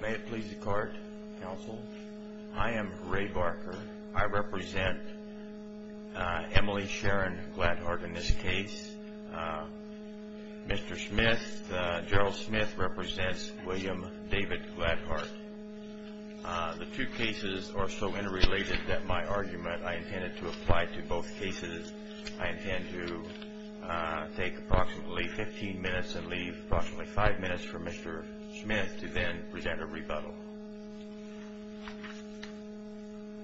May it please the Court, Counsel. I am Ray Barker. I represent Emily Sharon Gladhart in this case. Mr. Smith, Gerald Smith represents William David Gladhart. The two cases are so interrelated that my argument, I intended to apply to both cases. I intend to take approximately 15 minutes and leave approximately 5 minutes for Mr. Smith to then present a rebuttal.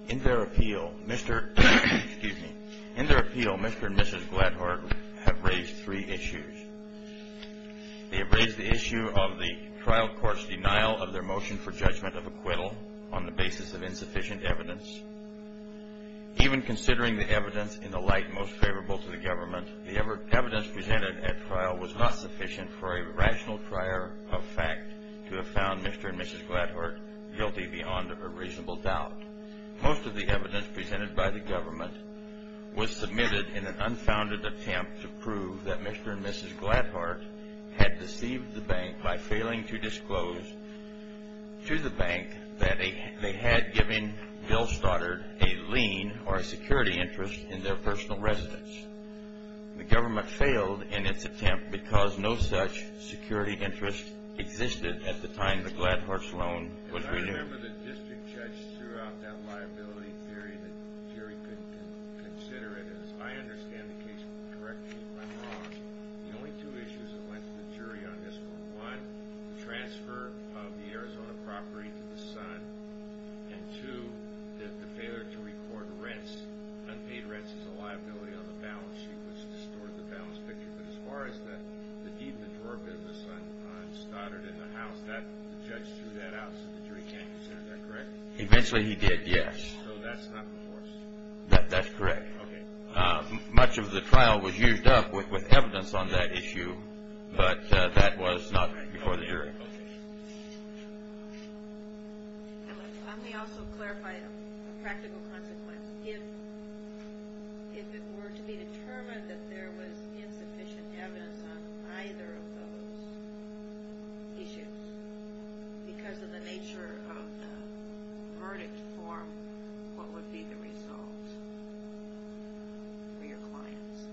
In their appeal, Mr. and Mrs. Gladhart have raised three issues. They have raised the issue of the trial court's denial of their motion for judgment of acquittal on the basis of insufficient evidence. Even considering the evidence in the light most favorable to the government, the evidence presented at trial was not sufficient for a rational trier of fact to have found Mr. and Mrs. Gladhart guilty beyond a reasonable doubt. Most of the evidence presented by the government was submitted in an unfounded attempt to prove that Mr. and Mrs. Gladhart had deceived the bank by failing to disclose to the bank that they had given Bill Stoddard a lien or a security interest in their personal residence. The government failed in its attempt because no such security interest existed at the time the Gladharts' loan was renewed. I remember the district judge threw out that liability theory that the jury could consider it. As I understand the case from the correct view, I'm wrong. The only two issues that went to the jury on this were, one, the transfer of the Arizona property to the Sun, and two, the failure to record rents. Unpaid rents is a liability on the balance sheet, which distorted the balance picture. But as far as the deed to the door business on Stoddard in the house, the judge threw that out so the jury can't consider that, correct? Eventually he did, yes. So that's not before us? That's correct. Much of the trial was used up with evidence on that issue, but that was not before the jury. Let me also clarify a practical consequence. If it were to be determined that there was insufficient evidence on either of those issues because of the nature of the verdict form, what would be the result for your clients?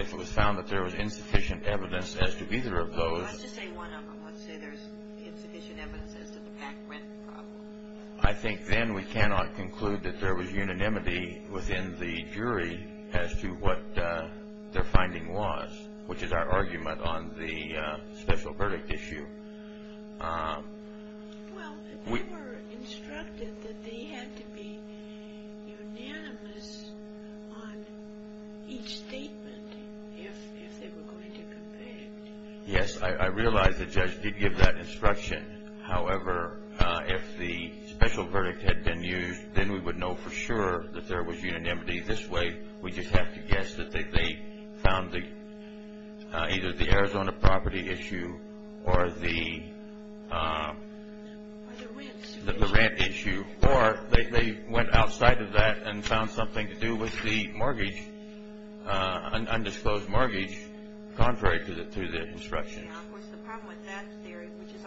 If it was found that there was insufficient evidence as to either of those. Let's just say one of them. Let's say there's insufficient evidence as to the packed rent problem. I think then we cannot conclude that there was unanimity within the jury as to what their finding was, which is our argument on the special verdict issue. Well, they were instructed that they had to be unanimous on each statement if they were going to compare. Yes, I realize the judge did give that instruction. However, if the special verdict had been used, then we would know for sure that there was unanimity. This way, we just have to guess that they found either the Arizona property issue or the ramp issue, or they went outside of that and found something to do with the undisclosed mortgage, contrary to the instructions. Of course, the problem with that theory, which is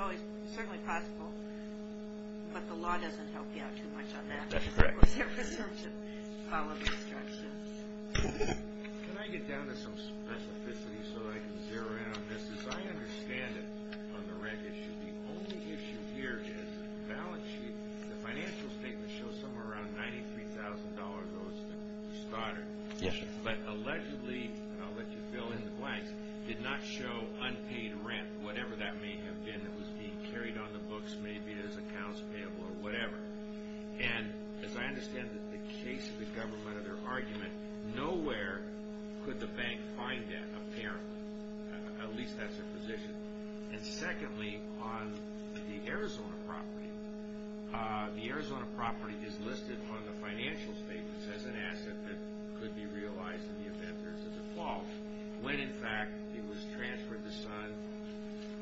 certainly possible, but the law doesn't help you out too much on that. That's correct. I love instructions. Can I get down to some specificity so that I can zero in on this? As I understand it on the rent issue, the only issue here is the balance sheet. The financial statement shows somewhere around $93,000 was the starter. Yes. But allegedly, and I'll let you fill in the blanks, did not show unpaid rent, whatever that may have been that was being carried on the books, maybe as accounts payable or whatever. As I understand the case of the government of their argument, nowhere could the bank find that, apparently. At least, that's their position. Secondly, on the Arizona property, the Arizona property is listed on the financial statements as an asset that could be realized in the event there's a default. When, in fact, it was transferred to Sun,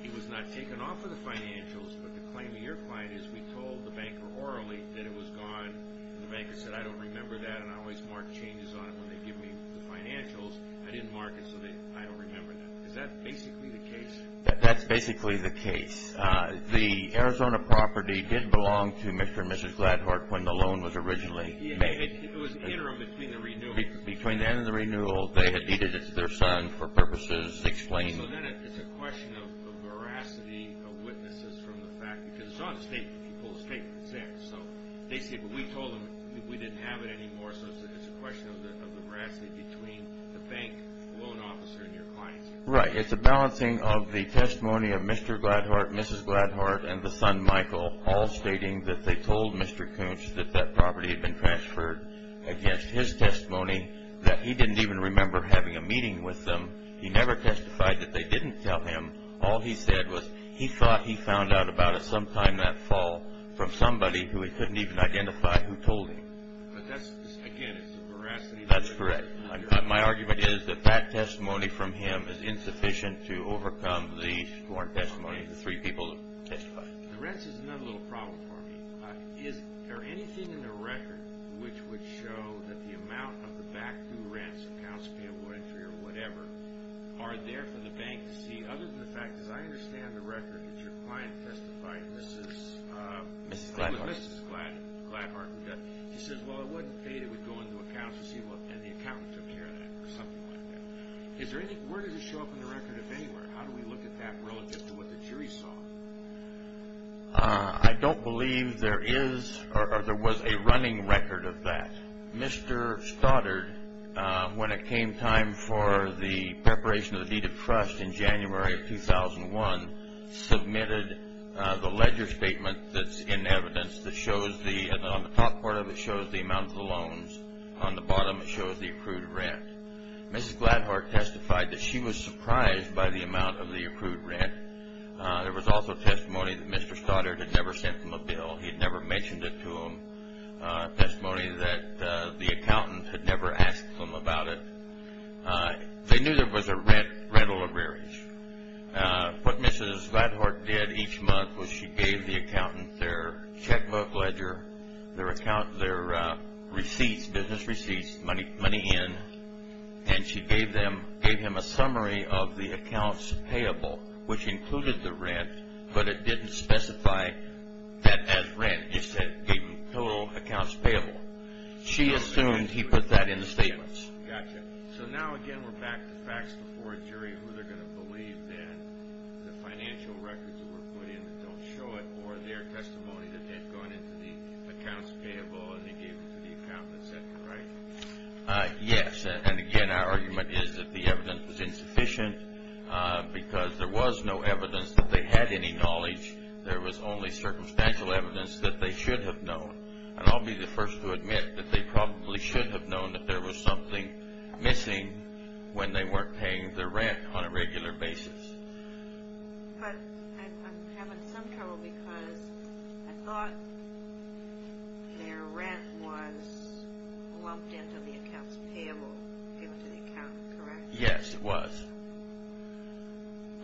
it was not taken off of the financials, but the claim of your client is we told the banker orally that it was gone. The banker said, I don't remember that, and I always mark changes on it when they give me the financials. I didn't mark it, so I don't remember that. Is that basically the case? That's basically the case. The Arizona property did belong to Mr. and Mrs. Gladhart when the loan was originally made. It was interim between the renewal. Between then and the renewal, they had deeded it to their son for purposes explained. So then it's a question of veracity of witnesses from the fact, because it's on the statement. You pull the statement, it's there. They say, but we told them that we didn't have it anymore, so it's a question of the veracity between the bank loan officer and your clients. Right. It's a balancing of the testimony of Mr. Gladhart, Mrs. Gladhart, and the son, Michael, all stating that they told Mr. Koontz that that property had been transferred against his testimony, that he didn't even remember having a meeting with them. He never testified that they didn't tell him. All he said was he thought he found out about it sometime that fall from somebody who he couldn't even identify who told him. But that's, again, it's a veracity. That's correct. My argument is that that testimony from him is insufficient to overcome the sworn testimony of the three people who testified. The rents is another little problem for me. Is there anything in the record which would show that the amount of the back-due rents, accounts of payable entry or whatever, are there for the bank to see other than the fact, as I understand the record, that your client testified, Mrs. Gladhart. He says, well, it wasn't paid. It would go into accounts and the accountant took care of that or something like that. Where does it show up in the record, if anywhere? How do we look at that relative to what the jury saw? I don't believe there is or there was a running record of that. Mr. Stoddard, when it came time for the preparation of the deed of trust in January of 2001, submitted the ledger statement that's in evidence that shows the, on the top part of it, shows the amount of the loans. On the bottom, it shows the accrued rent. Mrs. Gladhart testified that she was surprised by the amount of the accrued rent. There was also testimony that Mr. Stoddard had never sent them a bill. He had never mentioned it to them. Testimony that the accountant had never asked them about it. They knew there was a rental arrearage. What Mrs. Gladhart did each month was she gave the accountant their checkbook ledger, their receipts, business receipts, money in, and she gave them, gave him a summary of the accounts payable, which included the rent, but it didn't specify that as rent. It said, gave him total accounts payable. She assumed he put that in the statements. Gotcha. So now, again, we're back to facts before a jury, who they're going to believe then, the financial records that were put in that don't show it, or their testimony that they've gone into the accounts payable and they gave them to the accountant and said, correct? Yes, and again, our argument is that the evidence was insufficient because there was no evidence that they had any knowledge. There was only circumstantial evidence that they should have known, and I'll be the first to admit that they probably should have known that there was something missing when they weren't paying their rent on a regular basis. But I'm having some trouble because I thought their rent was lumped into the accounts payable, given to the accountant, correct? Yes, it was.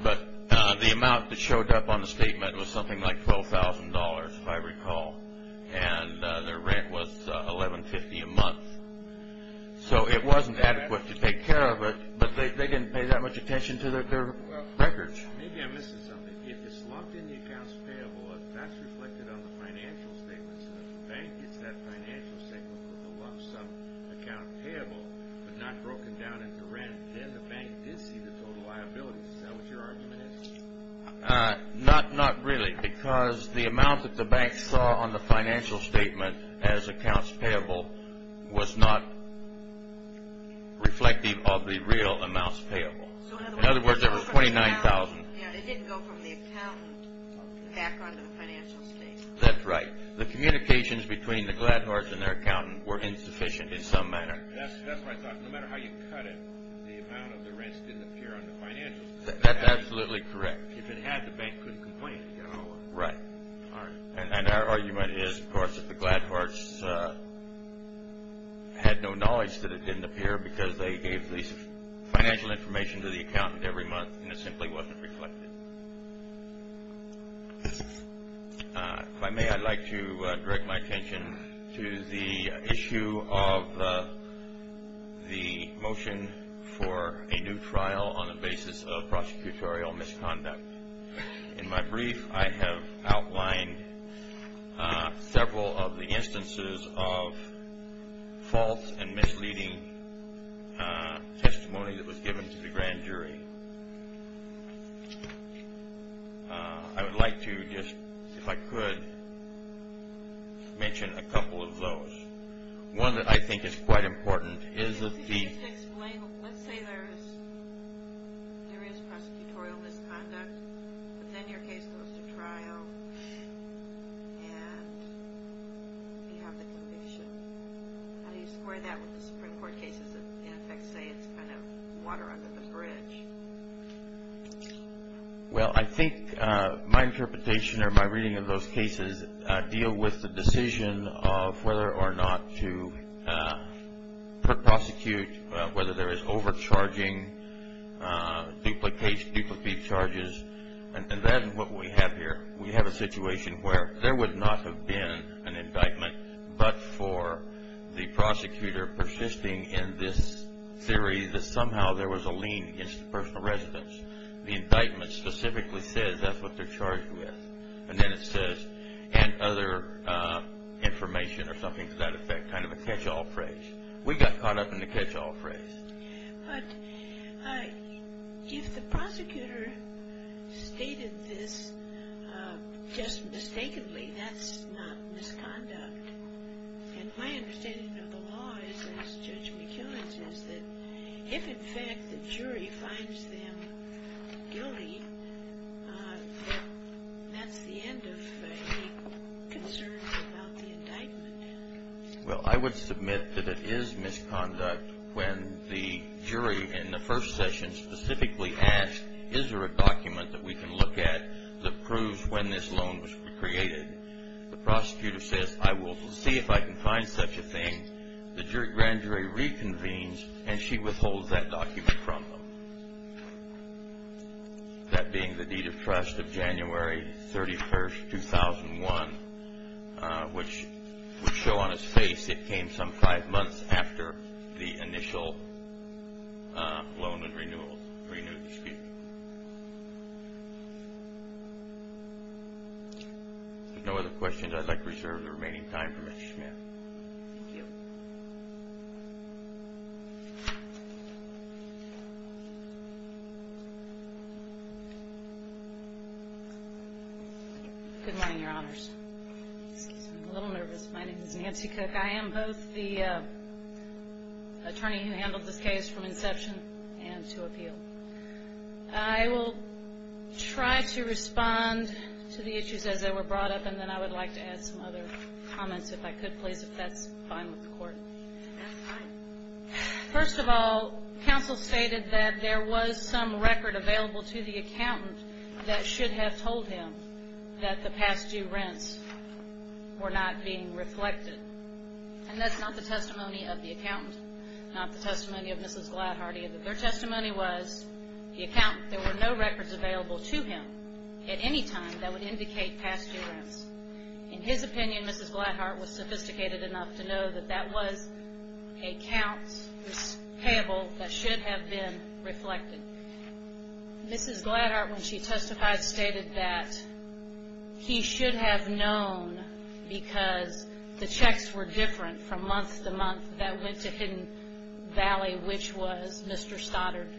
But the amount that showed up on the statement was something like $12,000, if I recall, and their rent was $11.50 a month. So it wasn't adequate to take care of it, but they didn't pay that much attention to their records. Maybe I'm missing something. If it's lumped in the accounts payable, that's reflected on the financial statements, and if the bank gets that financial statement with a lump sum account payable, but not broken down into rent, then the bank did see the total liability. Is that what your argument is? Not really, because the amount that the bank saw on the financial statement as accounts payable was not reflective of the real amounts payable. In other words, there were $29,000. It didn't go from the accountant back onto the financial statement. That's right. The communications between the Gladhors and their accountant were insufficient in some manner. That's what I thought. No matter how you cut it, the amount of the rents didn't appear on the financial statement. That's absolutely correct. If it had, the bank couldn't complain. Right. And our argument is, of course, that the Gladhors had no knowledge that it didn't appear because they gave this financial information to the accountant every month, and it simply wasn't reflected. If I may, I'd like to direct my attention to the issue of the motion for a new trial on the basis of prosecutorial misconduct. In my brief, I have outlined several of the instances of false and misleading testimony that was given to the grand jury. I would like to just, if I could, mention a couple of those. One that I think is quite important is that the… Could you explain, let's say there is prosecutorial misconduct, but then your case goes to trial and you have the conviction. How do you square that with the Supreme Court cases that, in effect, say it's kind of water under the bridge? Well, I think my interpretation or my reading of those cases deal with the decision of whether or not to prosecute, whether there is overcharging, duplicate charges, and that is what we have here. We have a situation where there would not have been an indictment, but for the prosecutor persisting in this theory that somehow there was a lien against the personal residence. The indictment specifically says that's what they're charged with, and then it says, and other information or something to that effect, kind of a catch-all phrase. We got caught up in the catch-all phrase. But if the prosecutor stated this just mistakenly, that's not misconduct. And my understanding of the law is, as Judge McKeown says, that if, in fact, the jury finds them guilty, that's the end of any concerns about the indictment. Well, I would submit that it is misconduct when the jury in the first session specifically asks, is there a document that we can look at that proves when this loan was created? The prosecutor says, I will see if I can find such a thing. The grand jury reconvenes, and she withholds that document from them. That being the deed of trust of January 31, 2001, which would show on its face it came some five months after the initial loan and renewal dispute. If there are no other questions, I'd like to reserve the remaining time for Ms. Schmidt. Thank you. Good morning, Your Honors. I'm a little nervous. My name is Nancy Cook. I am both the attorney who handled this case from inception and to appeal. I will try to respond to the issues as they were brought up, and then I would like to add some other comments, if I could, please, if that's fine with the Court. First of all, counsel stated that there was some record available to the accountant that should have told him that the past due rents were not being reflected. And that's not the testimony of the accountant, not the testimony of Mrs. Gladhard, either. Their testimony was there were no records available to him at any time that would indicate past due rents. In his opinion, Mrs. Gladhard was sophisticated enough to know that that was a count payable that should have been reflected. Mrs. Gladhard, when she testified, stated that he should have known because the checks were different from month to month that went to Hidden Valley, which was Mr. Stoddard,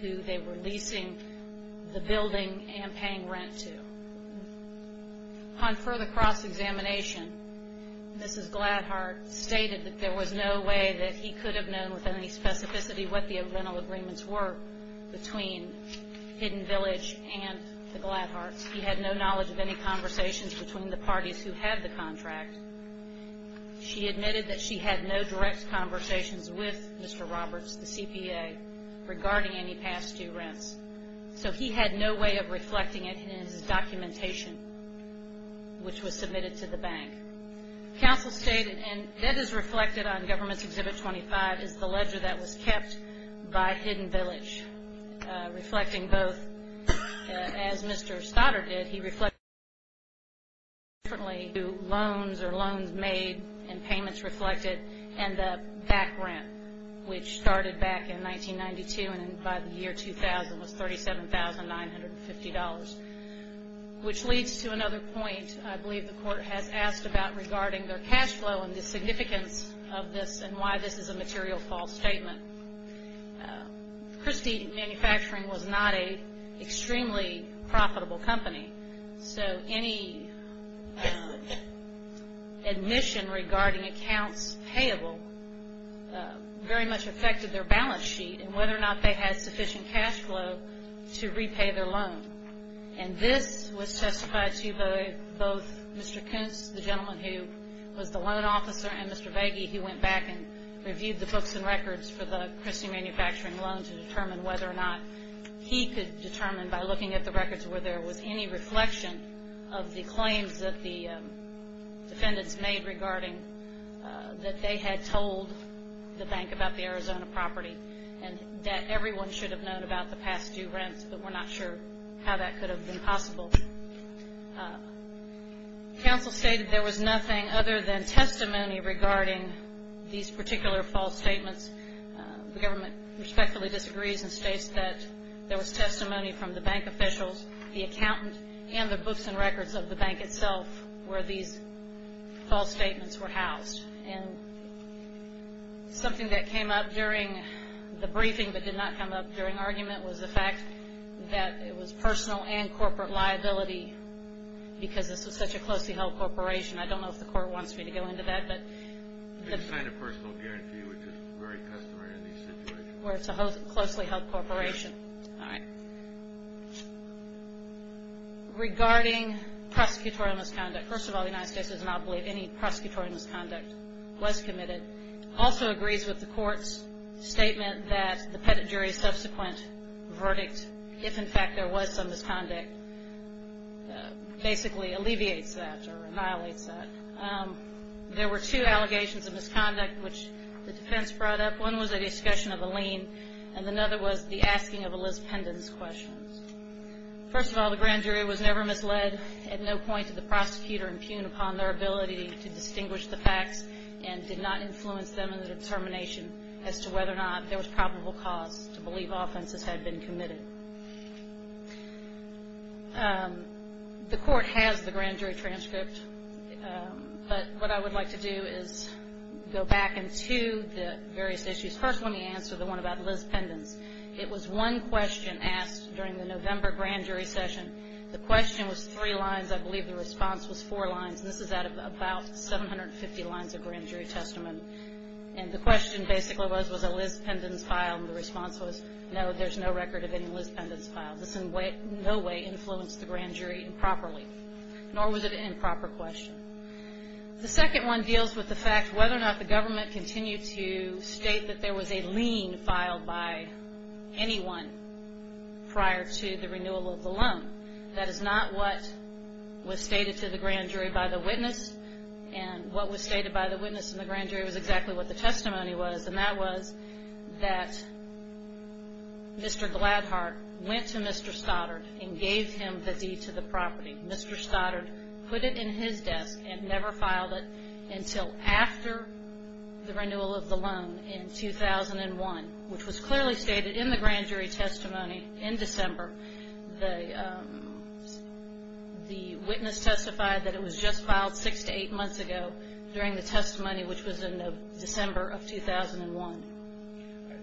who they were leasing the building and paying rent to. Upon further cross-examination, Mrs. Gladhard stated that there was no way that he could have known with any specificity what the rental agreements were between Hidden Village and the Gladhards. He had no knowledge of any conversations between the parties who had the contract. She admitted that she had no direct conversations with Mr. Roberts, the CPA, regarding any past due rents. So he had no way of reflecting it in his documentation, which was submitted to the bank. Counsel stated, and that is reflected on Government's Exhibit 25, is the ledger that was kept by Hidden Village, reflecting both, as Mr. Stoddard did, he reflected differently to loans or loans made and payments reflected, and the back rent, which started back in 1992 and by the year 2000 was $37,950. Which leads to another point I believe the Court has asked about regarding their cash flow and the significance of this and why this is a material false statement. Christie Manufacturing was not an extremely profitable company, so any admission regarding accounts payable very much affected their balance sheet and whether or not they had sufficient cash flow to repay their loan. And this was testified to by both Mr. Koontz, the gentleman who was the loan officer, and Mr. Vagey, who went back and reviewed the books and records for the Christie Manufacturing loan to determine whether or not he could determine, by looking at the records, whether there was any reflection of the claims that the defendants made regarding that they had told the bank about the Arizona property and that everyone should have known about the past due rents, but were not sure how that could have been possible. Counsel stated there was nothing other than testimony regarding these particular false statements. The government respectfully disagrees and states that there was testimony from the bank officials, the accountant, and the books and records of the bank itself where these false statements were housed. And something that came up during the briefing but did not come up during argument was the fact that it was personal and corporate liability because this is such a closely held corporation. I don't know if the court wants me to go into that. They just signed a personal guarantee, which is very customary in these situations. Where it's a closely held corporation. All right. Regarding prosecutorial misconduct, first of all, the United States does not believe any prosecutorial misconduct was committed. Also agrees with the court's statement that the pettit jury's subsequent verdict, if in fact there was some misconduct, basically alleviates that or annihilates that. There were two allegations of misconduct which the defense brought up. One was a discussion of a lien and another was the asking of Elizabeth Pendon's questions. First of all, the grand jury was never misled at no point did the prosecutor impugn upon their ability to distinguish the facts and did not influence them in the determination as to whether or not there was probable cause to believe offenses had been committed. The court has the grand jury transcript, but what I would like to do is go back into the various issues. First, let me answer the one about Liz Pendon's. It was one question asked during the November grand jury session. The question was three lines. I believe the response was four lines. This is out of about 750 lines of grand jury testament. And the question basically was, was it Liz Pendon's file? And the response was, no, there's no record of any Liz Pendon's file. This in no way influenced the grand jury improperly, nor was it an improper question. The second one deals with the fact whether or not the government continued to state that there was a lien filed by anyone prior to the renewal of the loan. That is not what was stated to the grand jury by the witness. And what was stated by the witness in the grand jury was exactly what the testimony was, and that was that Mr. Gladhart went to Mr. Stoddard and gave him the deed to the property. Mr. Stoddard put it in his desk and never filed it until after the renewal of the loan in 2001, which was clearly stated in the grand jury testimony in December. The witness testified that it was just filed six to eight months ago during the testimony, which was in December of 2001.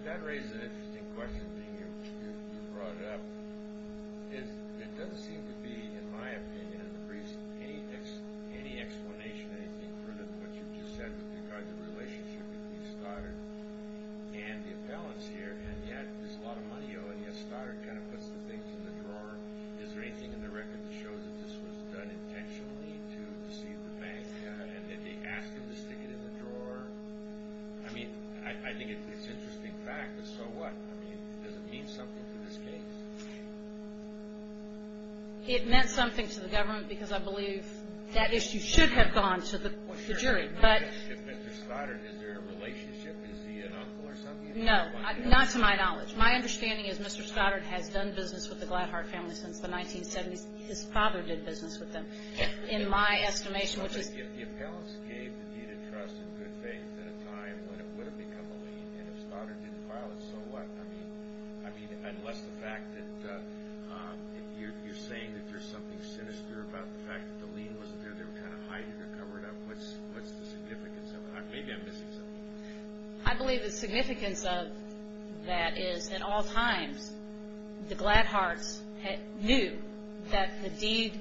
That raises an interesting question being brought up. It doesn't seem to be, in my opinion, in the briefs, any explanation, anything, with regard to the relationship between Stoddard and the appellants here, and yet there's a lot of money owed. Yes, Stoddard kind of puts the things in the drawer. Is there anything in the record that shows that this was done intentionally to deceive the bank and that they asked him to stick it in the drawer? I mean, I think it's an interesting fact, but so what? I mean, does it mean something to this case? It meant something to the government because I believe that issue should have gone to the jury. But Mr. Stoddard, is there a relationship? Is he an uncle or something? No, not to my knowledge. My understanding is Mr. Stoddard has done business with the Gladhart family since the 1970s. His father did business with them, in my estimation. But the appellants gave the deed of trust and good faith at a time when it would have become a lien, and if Stoddard didn't file it, so what? I mean, unless the fact that you're saying that there's something sinister about the fact that the lien wasn't there, they were kind of hiding it or covering it up, what's the significance of it? Maybe I'm missing something. I believe the significance of that is at all times the Gladharts knew that the deed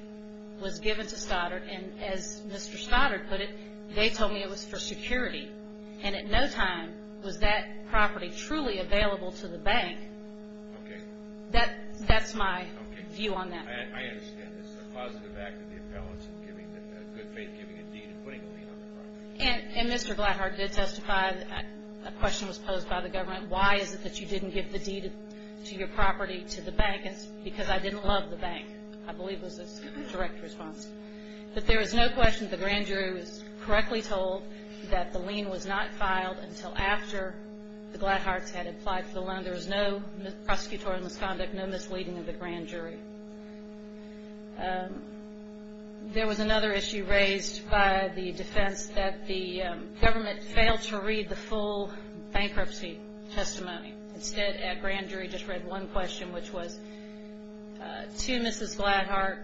was given to Stoddard, and as Mr. Stoddard put it, they told me it was for security. And at no time was that property truly available to the bank. Okay. That's my view on that. I understand. It's a positive act of the appellants, a good faith giving a deed and putting a lien on the property. And Mr. Gladhart did testify. A question was posed by the government. Why is it that you didn't give the deed to your property to the bank? It's because I didn't love the bank, I believe was his direct response. But there is no question that the grand jury was correctly told that the lien was not filed until after the Gladharts had applied for the loan. There was no prosecutorial misconduct, no misleading of the grand jury. There was another issue raised by the defense that the government failed to read the full bankruptcy testimony. Instead, that grand jury just read one question, which was, to Mrs. Gladhart,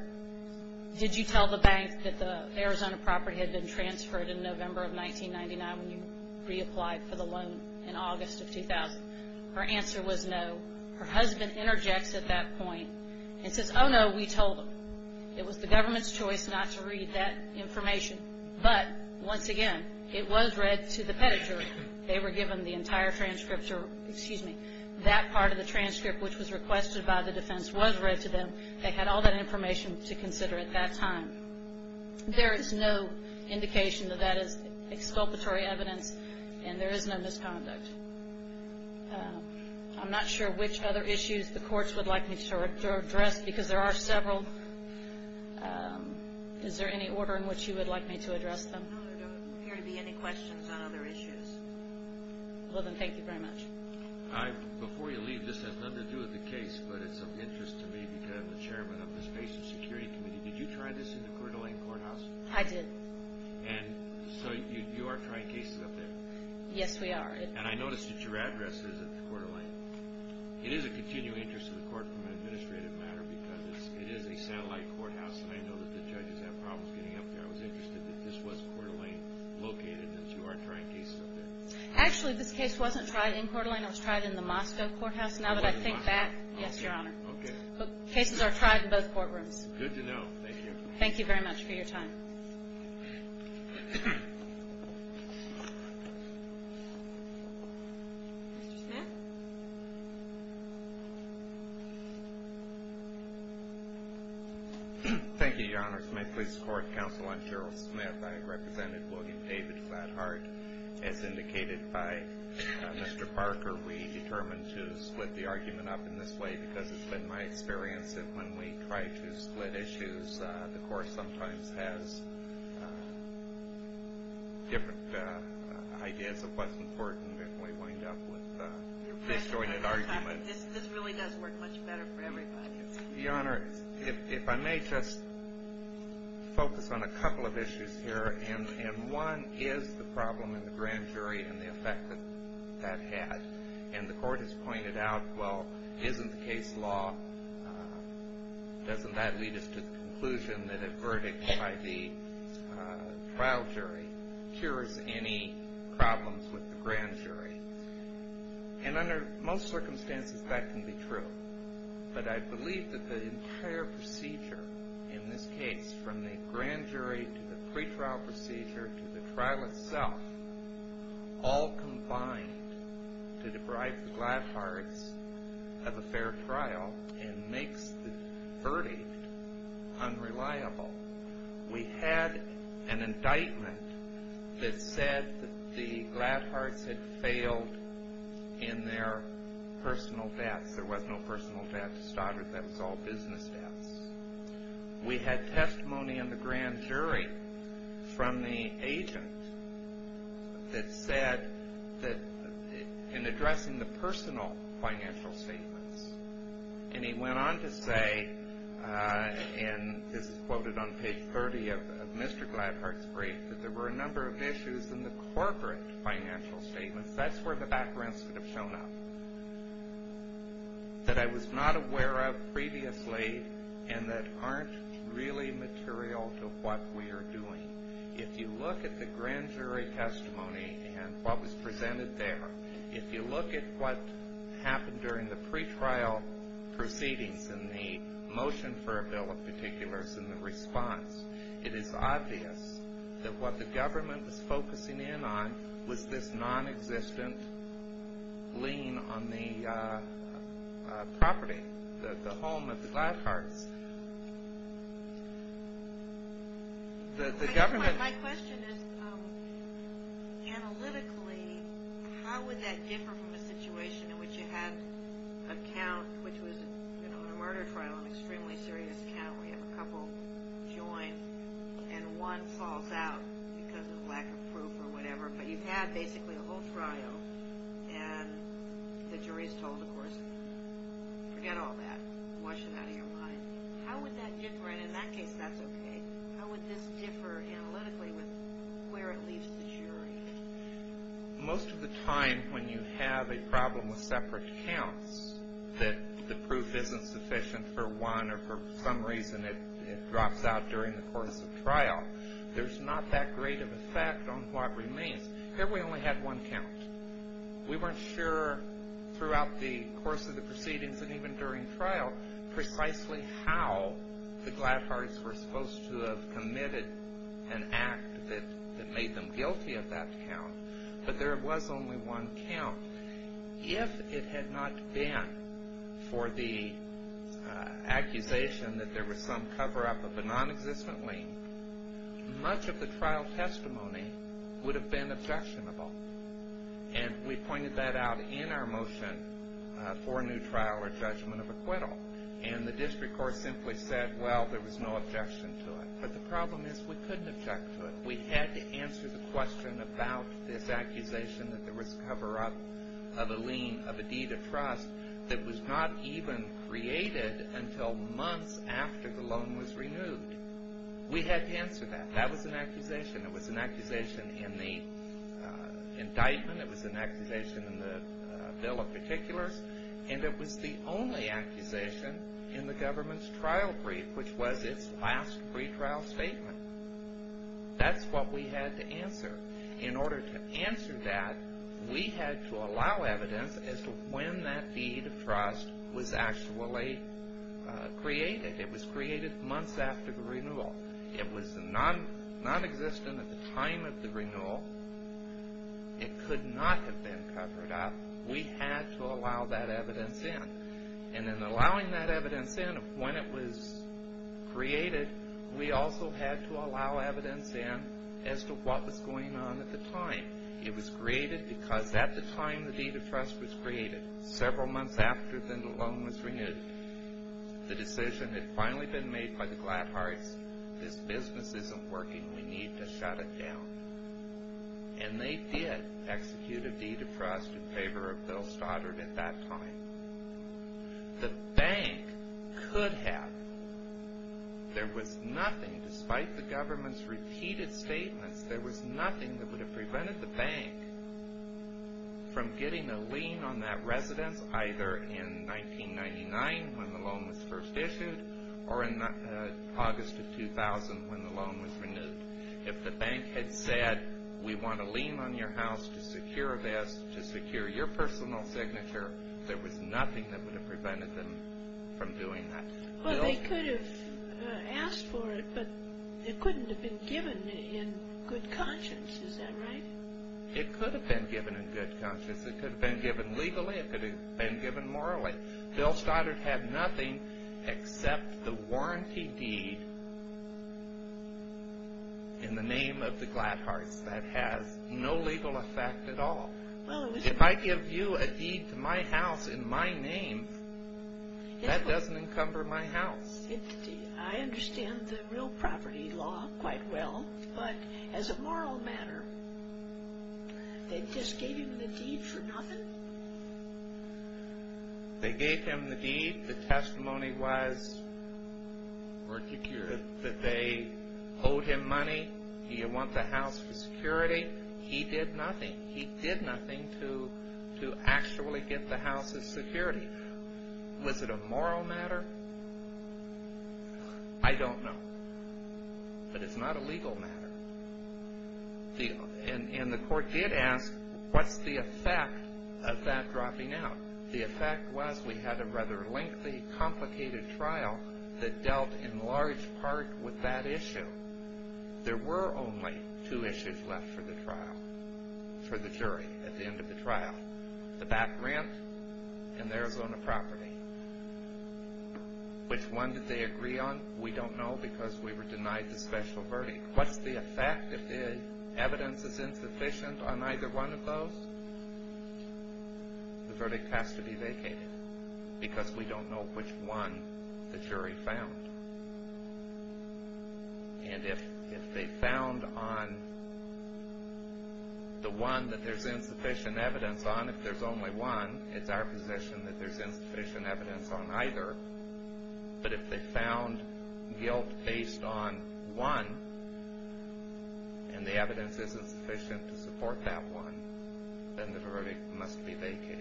did you tell the bank that the Arizona property had been transferred in November of 1999 when you reapplied for the loan in August of 2000? Her answer was no. Her husband interjects at that point and says, oh, no, we told them. It was the government's choice not to read that information. But, once again, it was read to the pedigree. They were given the entire transcript or, excuse me, that part of the transcript, which was requested by the defense, was read to them. They had all that information to consider at that time. There is no indication that that is exculpatory evidence, and there is no misconduct. I'm not sure which other issues the courts would like me to address because there are several. Is there any order in which you would like me to address them? No, there don't appear to be any questions on other issues. Well, then, thank you very much. Before you leave, this has nothing to do with the case, but it's of interest to me because I'm the chairman of the Space and Security Committee. Did you try this in the Coeur d'Alene courthouse? I did. And so you are trying cases up there? Yes, we are. And I noticed that your address is at the Coeur d'Alene. It is of continual interest to the court from an administrative matter because it is a satellite courthouse, and I know that the judges have problems getting up there. I was interested that this was Coeur d'Alene located, and you are trying cases up there. Actually, this case wasn't tried in Coeur d'Alene. It was tried in the Moscow courthouse. Now that I think back, yes, Your Honor. Okay. Cases are tried in both courtrooms. Good to know. Thank you. Thank you very much for your time. Mr. Smith? Thank you, Your Honors. This is my police court counsel. I'm Gerald Smith. I represented Logan David Flatheart. As indicated by Mr. Parker, we determined to split the argument up in this way because it's been my experience that when we try to split issues, the court sometimes has different ideas of what's important, and we wind up with disjointed arguments. This really does work much better for everybody. Your Honor, if I may just focus on a couple of issues here, and one is the problem in the grand jury and the effect that that had. And the court has pointed out, well, isn't the case law? Doesn't that lead us to the conclusion that a verdict by the trial jury cures any problems with the grand jury? And under most circumstances, that can be true. But I believe that the entire procedure in this case, from the grand jury to the pretrial procedure to the trial itself, all combined to deprive the Gladhards of a fair trial and makes the verdict unreliable. We had an indictment that said that the Gladhards had failed in their personal debts. There was no personal debt to Stoddard. That was all business debts. We had testimony in the grand jury from the agent that said that in addressing the personal financial statements, and he went on to say, and this is quoted on page 30 of Mr. Gladhards' brief, that there were a number of issues in the corporate financial statements. That's where the backgrounds could have shown up that I was not aware of previously and that aren't really material to what we are doing. If you look at the grand jury testimony and what was presented there, if you look at what happened during the pretrial proceedings and the motion for a bill of particulars and the response, it is obvious that what the government was focusing in on was this non-existent lien on the property, the home of the Gladhards. My question is, analytically, how would that differ from a situation in which you had a count, which was a murder trial, an extremely serious count where you have a couple join and one falls out because of lack of proof or whatever, but you've had basically a whole trial and the jury is told, of course, forget all that. Wash it out of your mind. How would that differ, and in that case, that's okay. How would this differ analytically with where it leaves the jury? Most of the time when you have a problem with separate counts, that the proof isn't sufficient for one or for some reason it drops out during the course of trial, there's not that great of an effect on what remains. Here we only had one count. We weren't sure throughout the course of the proceedings and even during trial precisely how the Gladhards were supposed to have committed an act that made them guilty of that count, but there was only one count. If it had not been for the accusation that there was some cover-up of a non-existent lien, much of the trial testimony would have been objectionable, and we pointed that out in our motion for a new trial or judgment of acquittal, and the district court simply said, well, there was no objection to it, but the problem is we couldn't object to it. We had to answer the question about this accusation that there was cover-up of a lien, of a deed of trust that was not even created until months after the loan was renewed. We had to answer that. That was an accusation. It was an accusation in the indictment. It was an accusation in the bill of particulars, and it was the only accusation in the government's trial brief, which was its last pretrial statement. That's what we had to answer. In order to answer that, we had to allow evidence as to when that deed of trust was actually created. It was created months after the renewal. It was nonexistent at the time of the renewal. It could not have been covered up. We had to allow that evidence in, and in allowing that evidence in when it was created, we also had to allow evidence in as to what was going on at the time. It was created because at the time the deed of trust was created, several months after the loan was renewed, the decision had finally been made by the Gladhards, this business isn't working, we need to shut it down. And they did execute a deed of trust in favor of Bill Stoddard at that time. The bank could have. There was nothing, despite the government's repeated statements, there was nothing that would have prevented the bank from getting a lien on that residence either in 1999 when the loan was first issued or in August of 2000 when the loan was renewed. If the bank had said, we want a lien on your house to secure your personal signature, there was nothing that would have prevented them from doing that. Well, they could have asked for it, but it couldn't have been given in good conscience, is that right? It could have been given in good conscience, it could have been given legally, it could have been given morally. Bill Stoddard had nothing except the warranty deed in the name of the Gladhards that has no legal effect at all. If I give you a deed to my house in my name, that doesn't encumber my house. I understand the real property law quite well, but as a moral matter, they just gave him the deed for nothing? They gave him the deed. The testimony was that they owed him money. Do you want the house for security? He did nothing. He did nothing to actually get the house as security. Was it a moral matter? I don't know. But it's not a legal matter. And the court did ask, what's the effect of that dropping out? The effect was we had a rather lengthy, complicated trial that dealt in large part with that issue. There were only two issues left for the trial, for the jury at the end of the trial, the back rent and the Arizona property. Which one did they agree on? We don't know because we were denied the special verdict. What's the effect if the evidence is insufficient on either one of those? The verdict has to be vacated because we don't know which one the jury found. And if they found on the one that there's insufficient evidence on, if there's only one, it's our position that there's insufficient evidence on either. But if they found guilt based on one and the evidence isn't sufficient to support that one, then the verdict must be vacated.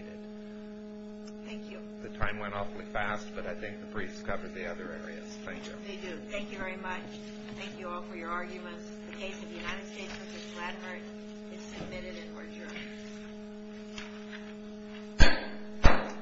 Thank you. The time went awfully fast, but I think the briefs covered the other areas. Thank you. They do. Thank you very much. Thank you all for your arguments. The case of the United States versus Vladimir is submitted and adjourned.